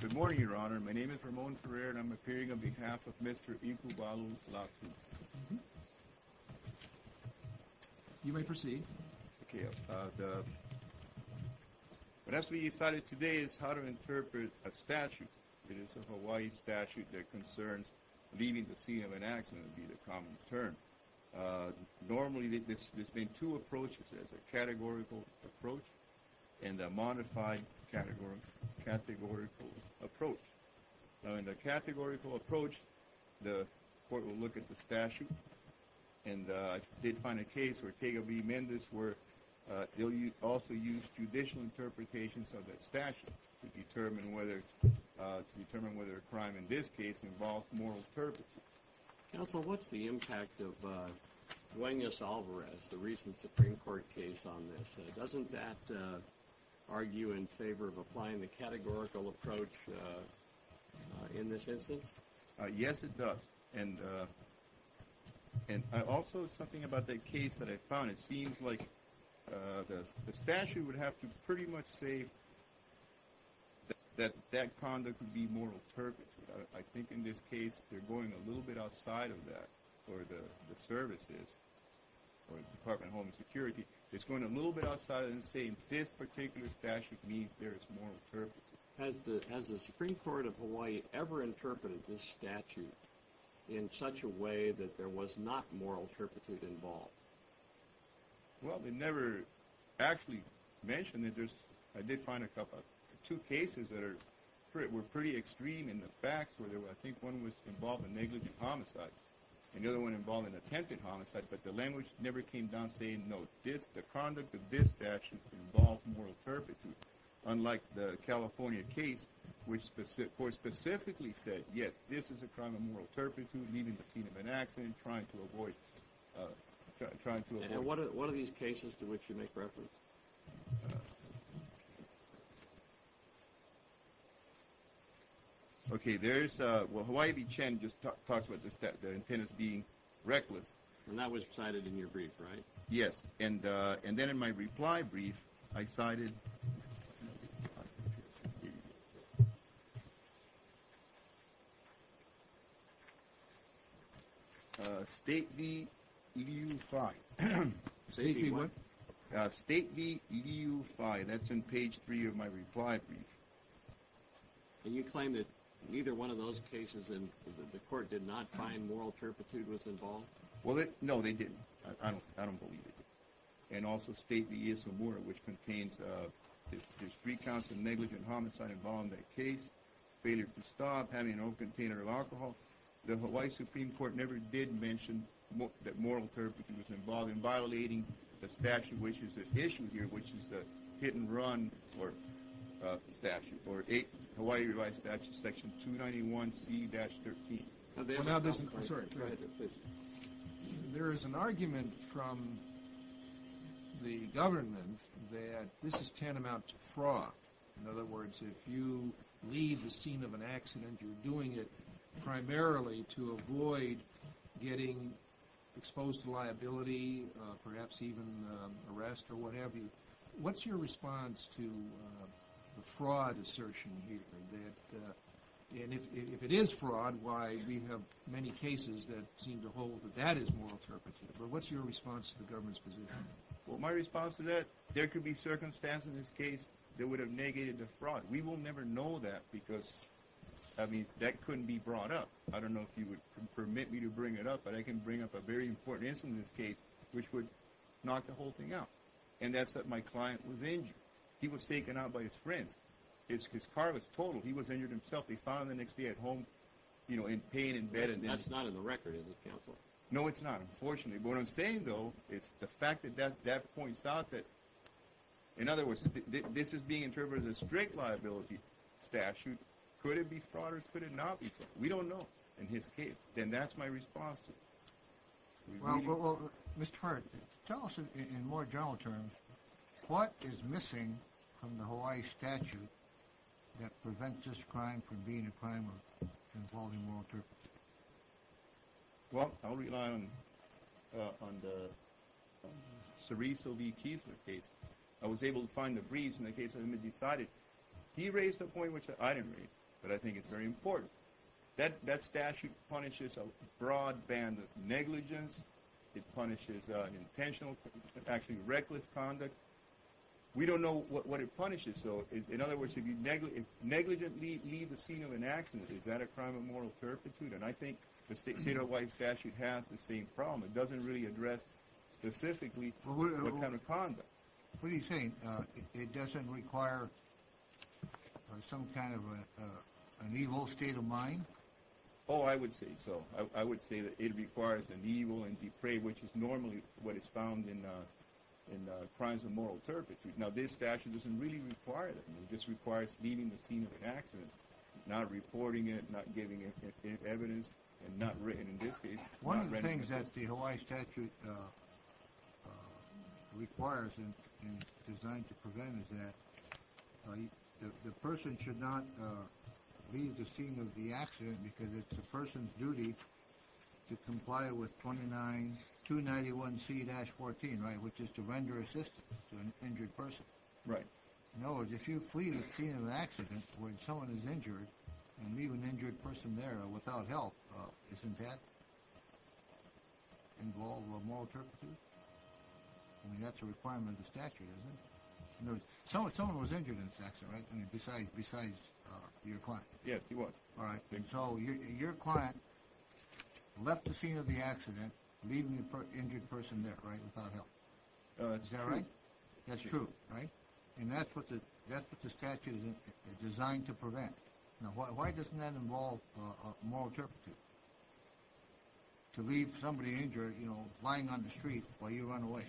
Good morning, Your Honor. My name is Ramon Ferrer, and I'm appearing on behalf of Mr. Iku Balu's LATU. You may proceed. What has to be decided today is how to interpret a statute. It is a Hawaii statute that concerns leaving the scene of an accident would be the common term. Normally, there's been two approaches. There's a categorical approach and a modified categorical approach. Now, in the categorical approach, the court will look at the statute. And I did find a case where Tega v. Mendez also used judicial interpretations of that statute to determine whether a crime in this case involved moral purposes. Counsel, what's the impact of Duenas-Alvarez, the recent Supreme Court case on this? Doesn't that argue in favor of applying the categorical approach in this instance? Yes, it does. And also, something about that case that I found, it seems like the statute would have to pretty much say that that conduct would be moral purpose. I think in this case, they're going a little bit outside of that for the services or the Department of Homeland Security. It's going a little bit outside and saying this particular statute means there is moral purpose. Has the Supreme Court of Hawaii ever interpreted this statute in such a way that there was not moral purpose involved? Well, they never actually mentioned it. I did find two cases that were pretty extreme in the facts. I think one was involved in negligent homicide and the other one involved in attempted homicide. But the language never came down saying, no, the conduct of this statute involves moral purpose, unlike the California case, which specifically said, yes, this is a crime of moral turpitude, leaving the scene of an accident, trying to avoid. And what are these cases to which you make reference? Okay, there's, well, Hawaii v. Chen just talks about the intent of being reckless. And that was cited in your brief, right? Yes. And then in my reply brief, I cited State v. EDU-5. State v. what? State v. EDU-5. That's in page three of my reply brief. And you claim that neither one of those cases in the court did not find moral turpitude was involved? Well, no, they didn't. I don't believe they did. And also State v. ESOMURA, which contains, there's three counts of negligent homicide involved in that case, failure to stop, having an open container of alcohol. The Hawaii Supreme Court never did mention that moral turpitude was involved in violating the statute, which is at issue here, which is the hit-and-run statute, or Hawaii revised statute, section 291C-13. There is an argument from the government that this is tantamount to fraud. In other words, if you leave the scene of an accident, you're doing it primarily to avoid getting exposed to liability, perhaps even arrest or what have you. What's your response to the fraud assertion here? And if it is fraud, why we have many cases that seem to hold that that is moral turpitude. But what's your response to the government's position? Well, my response to that, there could be circumstances in this case that would have negated the fraud. We will never know that because, I mean, that couldn't be brought up. I don't know if you would permit me to bring it up, but I can bring up a very important instance in this case, which would knock the whole thing out, and that's that my client was injured. He was taken out by his friends. His car was totaled. He was injured himself. He found the next day at home, you know, in pain in bed. That's not in the record, is it, counsel? No, it's not, unfortunately. But what I'm saying, though, is the fact that that points out that, in other words, this is being interpreted as a strict liability statute. Could it be fraud or could it not be fraud? We don't know in his case. And that's my response to it. Well, Mr. Hart, tell us, in more general terms, what is missing from the Hawaii statute that prevents this crime from being a crime involving moral turpitude? Well, I'll rely on the Cereso v. Kiesler case. I was able to find a breeze in the case, and it was decided. He raised a point which I didn't raise, but I think it's very important. That statute punishes a broad band of negligence. It punishes intentional, actually reckless conduct. We don't know what it punishes, though. In other words, if negligence leads the scene of an accident, is that a crime of moral turpitude? And I think the state of Hawaii statute has the same problem. It doesn't really address specifically what kind of conduct. What are you saying? It doesn't require some kind of an evil state of mind? Oh, I would say so. I would say that it requires an evil and defray, which is normally what is found in crimes of moral turpitude. Now, this statute doesn't really require that. This requires leading the scene of an accident, not reporting it, not giving evidence, and not written, in this case. One of the things that the Hawaii statute requires and is designed to prevent is that the person should not lead the scene of the accident because it's the person's duty to comply with 29291C-14, which is to render assistance to an injured person. Right. In other words, if you flee the scene of an accident when someone is injured and leave an injured person there without help, isn't that involved with moral turpitude? I mean, that's a requirement of the statute, isn't it? In other words, someone was injured in this accident, right? I mean, besides your client. Yes, he was. All right. And so your client left the scene of the accident, leaving the injured person there, right, without help. Is that right? That's true, right? And that's what the statute is designed to prevent. Now, why doesn't that involve moral turpitude, to leave somebody injured, you know, lying on the street while you run away?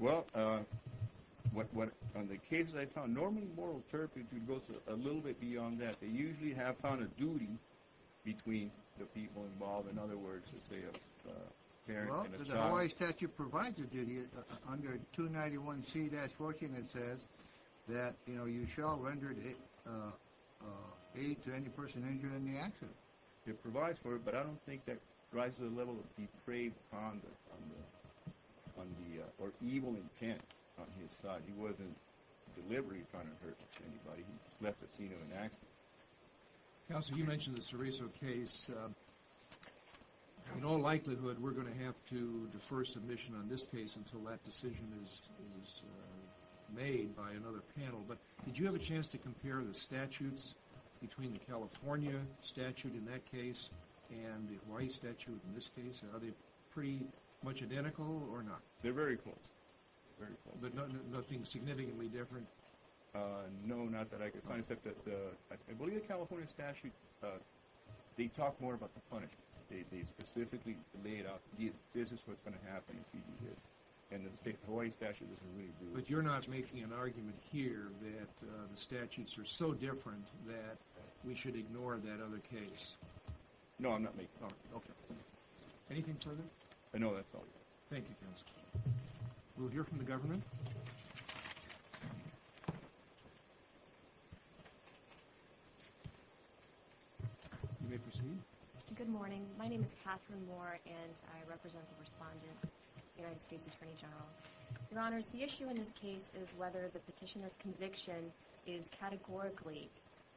Well, from the cases I found, normally moral turpitude goes a little bit beyond that. They usually have found a duty between the people involved. The Hawaii statute provides a duty under 291C-14. It says that, you know, you shall render aid to any person injured in the accident. It provides for it, but I don't think that drives the level of depraved conduct or evil intent on his side. He wasn't deliberately trying to hurt anybody. He left the scene of an accident. Counsel, you mentioned the Cereso case. In all likelihood, we're going to have to defer submission on this case until that decision is made by another panel, but did you have a chance to compare the statutes between the California statute in that case and the Hawaii statute in this case? Are they pretty much identical or not? They're very close, very close. But nothing significantly different? No, not that I could find except that I believe the California statute, they talk more about the punishment. They specifically laid out this is what's going to happen if you do this, and the Hawaii statute doesn't really do it. But you're not making an argument here that the statutes are so different that we should ignore that other case? No, I'm not making that argument. Okay. Anything further? I know that's all you have. Thank you, Counsel. We'll hear from the government. You may proceed. Good morning. My name is Catherine Moore, and I represent the respondent, the United States Attorney General. Your Honors, the issue in this case is whether the petitioner's conviction is categorically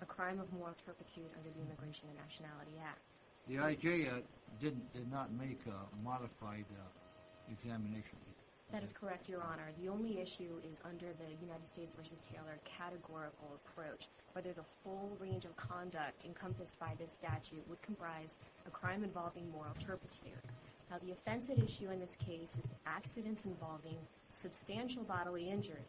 a crime of moral turpitude under the Immigration and Nationality Act. The IJ did not make a modified examination. That is correct, Your Honor. The only issue is under the United States v. Taylor categorical approach, whether the full range of conduct encompassed by this statute would comprise a crime involving moral turpitude. Now, the offensive issue in this case is accidents involving substantial bodily injury.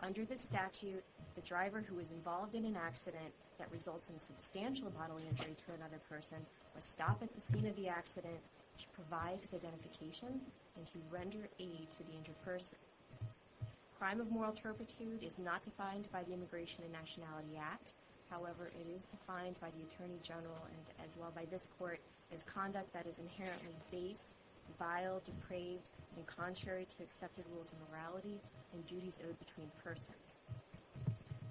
Under this statute, the driver who is involved in an accident that results in substantial bodily injury to another person must stop at the scene of the accident to provide identification and to render aid to the injured person. Crime of moral turpitude is not defined by the Immigration and Nationality Act. However, it is defined by the Attorney General and as well by this Court as conduct that is inherently base, vile, depraved, and contrary to accepted rules of morality and duties owed between persons.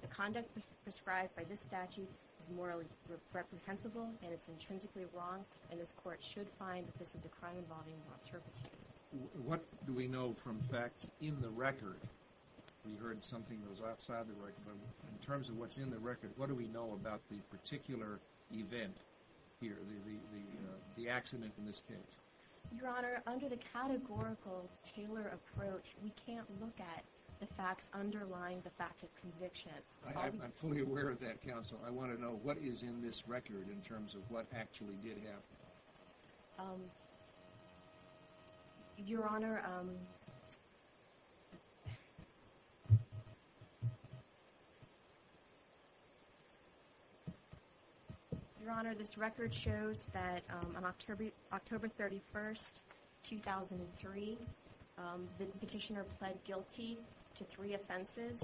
The conduct prescribed by this statute is morally reprehensible and it's intrinsically wrong, and this Court should find that this is a crime involving moral turpitude. What do we know from facts in the record? We heard something that was outside the record, but in terms of what's in the record, what do we know about the particular event here, the accident in this case? Your Honor, under the categorical Taylor approach, we can't look at the facts underlying the fact of conviction. I'm fully aware of that, Counsel. I want to know what is in this record in terms of what actually did happen. Your Honor, Your Honor, Your Honor, this record shows that on October 31, 2003, the petitioner pled guilty to three offenses.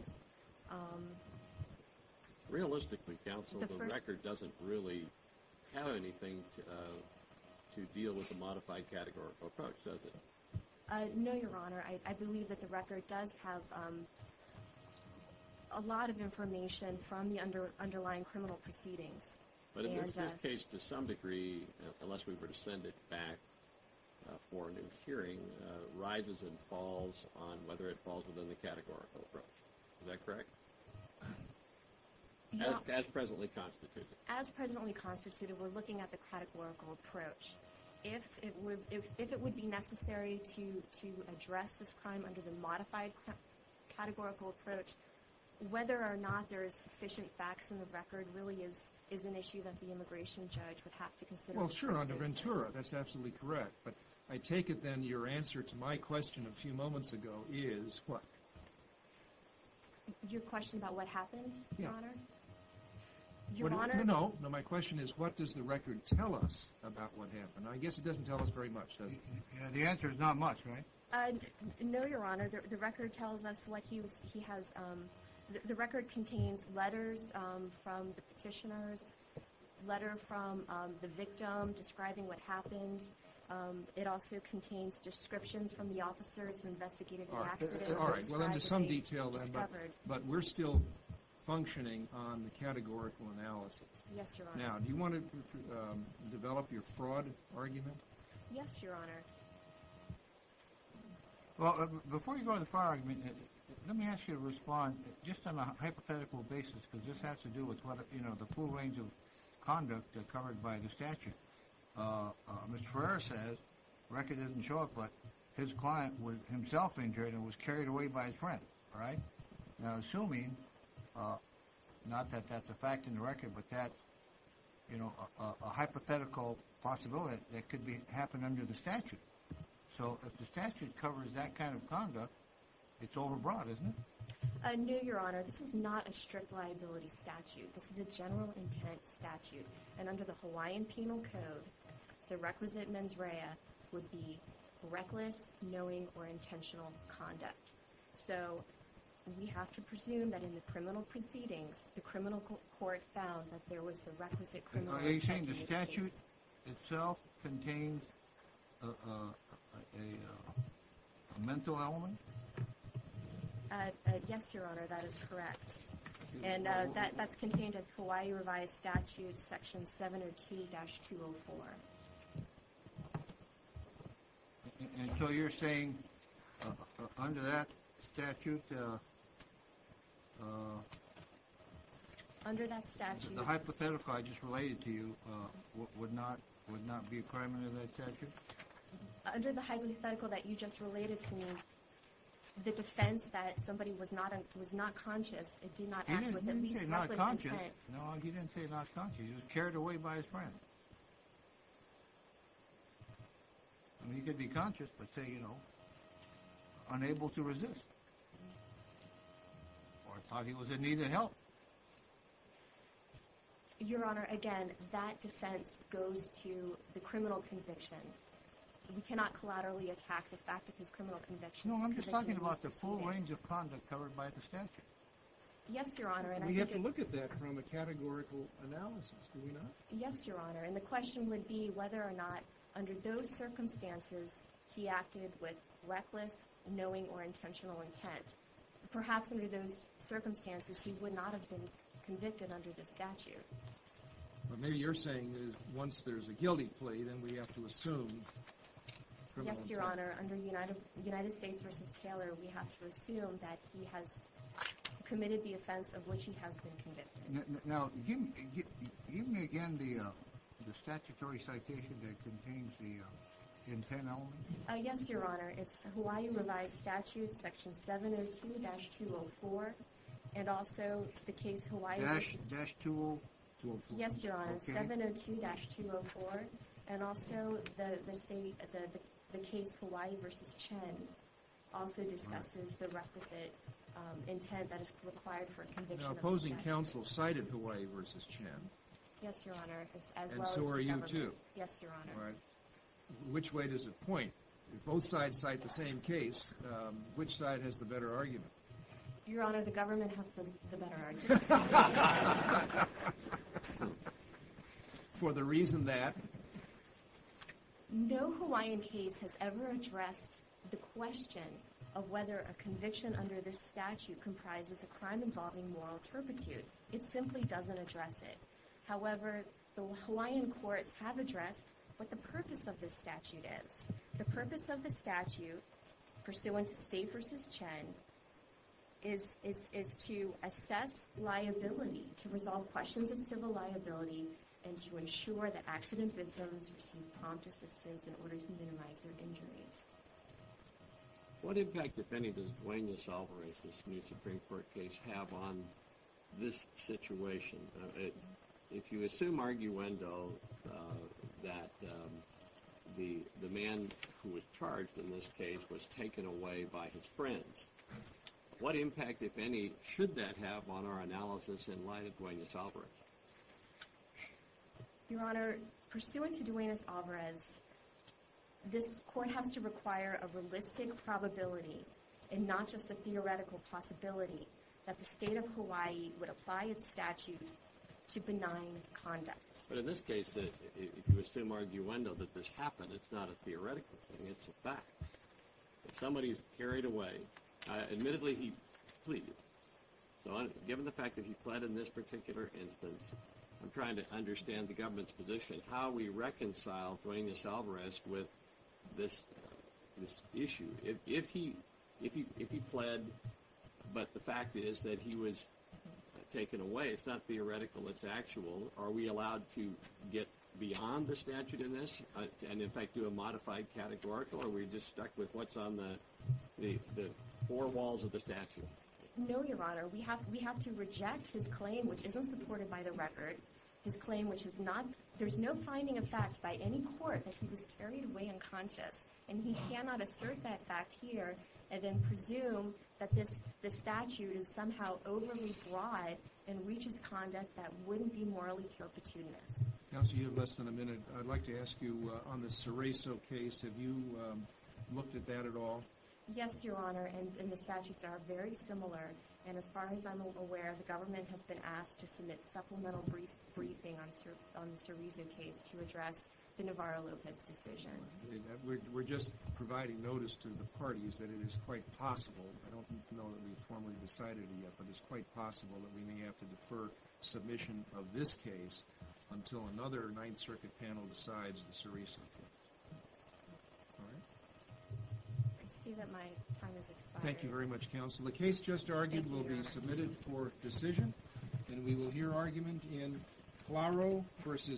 Realistically, Counsel, the record doesn't really have anything to deal with the modified categorical approach, does it? No, Your Honor. I believe that the record does have a lot of information from the underlying criminal proceedings. But in this case, to some degree, unless we were to send it back for a new hearing, rises and falls on whether it falls within the categorical approach. Is that correct? As presently constituted. As presently constituted, we're looking at the categorical approach. If it would be necessary to address this crime under the modified categorical approach, whether or not there is sufficient facts in the record really is an issue that the immigration judge would have to consider. Well, sure, under Ventura, that's absolutely correct. But I take it, then, your answer to my question a few moments ago is what? Your question about what happened, Your Honor? No, no. My question is what does the record tell us about what happened? I guess it doesn't tell us very much, does it? The answer is not much, right? No, Your Honor. The record tells us what he has – the record contains letters from the petitioners, a letter from the victim describing what happened. It also contains descriptions from the officers who investigated the accident. All right. Well, there's some detail there, but we're still functioning on the categorical analysis. Yes, Your Honor. Now, do you want to develop your fraud argument? Yes, Your Honor. Well, before you go to the fraud argument, let me ask you to respond just on a hypothetical basis, because this has to do with the full range of conduct covered by the statute. Mr. Ferrer says, the record doesn't show it, but his client was himself injured and was carried away by his friend. All right? Now, assuming – not that that's a fact in the record, but that's a hypothetical possibility that could happen under the statute. So if the statute covers that kind of conduct, it's overbroad, isn't it? No, Your Honor. This is not a strict liability statute. This is a general intent statute, and under the Hawaiian Penal Code, the requisite mens rea would be reckless, knowing, or intentional conduct. So we have to presume that in the criminal proceedings, the criminal court found that there was a requisite criminal intent in the case. Are you saying the statute itself contains a mental element? Yes, Your Honor, that is correct. And that's contained in the Hawaii Revised Statute, Section 702-204. And so you're saying under that statute, the hypothetical I just related to you would not be a crime under that statute? Under the hypothetical that you just related to me, the defense that somebody was not conscious and did not act with at least reckless intent – He didn't say not conscious. No, he didn't say not conscious. He was carried away by his friend. I mean, he could be conscious, but say, you know, unable to resist or thought he was in need of help. Your Honor, again, that defense goes to the criminal conviction. We cannot collaterally attack the fact of his criminal conviction. No, I'm just talking about the full range of content covered by the statute. Yes, Your Honor, and I think – We have to look at that from a categorical analysis, do we not? Yes, Your Honor, and the question would be whether or not under those circumstances he acted with reckless, knowing, or intentional intent. Perhaps under those circumstances he would not have been convicted under the statute. But maybe you're saying that once there's a guilty plea, then we have to assume criminal intent. Yes, Your Honor, under United States v. Taylor, we have to assume that he has committed the offense of which he has been convicted. Now, give me again the statutory citation that contains the intent element. Yes, Your Honor, it's Hawaii Revised Statute, Section 702-204, and also the case Hawaii v. 702-204. Yes, Your Honor, 702-204, and also the case Hawaii v. Chen also discusses the requisite intent that is required for a conviction under the statute. Now, opposing counsel cited Hawaii v. Chen. Yes, Your Honor, as well as the government. And so are you, too. Yes, Your Honor. All right. Which way does it point? If both sides cite the same case, which side has the better argument? Your Honor, the government has the better argument. For the reason that? No Hawaiian case has ever addressed the question of whether a conviction under this statute comprises a crime involving moral turpitude. It simply doesn't address it. However, the Hawaiian courts have addressed what the purpose of this statute is. The purpose of the statute, pursuant to State v. Chen, is to assess liability, to resolve questions of civil liability, and to ensure that accident victims receive prompt assistance in order to minimize their injuries. What impact, if any, does Duane DeSalvo v. Smith's Supreme Court case have on this situation? If you assume arguendo that the man who was charged in this case was taken away by his friends, what impact, if any, should that have on our analysis in light of Duane DeSalvo? Your Honor, pursuant to Duane DeSalvo, this court has to require a realistic probability, and not just a theoretical possibility, that the State of Hawaii would apply its statute to benign conduct. But in this case, if you assume arguendo that this happened, it's not a theoretical thing, it's a fact. If somebody's carried away, admittedly he pleaded. So given the fact that he pled in this particular instance, I'm trying to understand the government's position, how we reconcile Duane DeSalvo with this issue. If he pled, but the fact is that he was taken away, it's not theoretical, it's actual. Are we allowed to get beyond the statute in this, and in fact do a modified categorical, or are we just stuck with what's on the four walls of the statute? No, Your Honor. We have to reject his claim, which isn't supported by the record, his claim which is not, there's no finding of fact by any court that he was carried away unconscious. And he cannot assert that fact here, and then presume that the statute is somehow overly broad and reaches conduct that wouldn't be morally turpitude-ness. Counsel, you have less than a minute. I'd like to ask you, on the Cerezo case, have you looked at that at all? Yes, Your Honor, and the statutes are very similar. And as far as I'm aware, the government has been asked to submit supplemental briefing on the Cerezo case to address the Navarro-Lopez decision. We're just providing notice to the parties that it is quite possible, I don't know that we've formally decided it yet, but it's quite possible that we may have to defer submission of this case until another Ninth Circuit panel decides the Cerezo case. All right? I see that my time has expired. Thank you very much, Counsel. The case just argued will be submitted for decision, and we will hear argument in Claro v. Cerezo.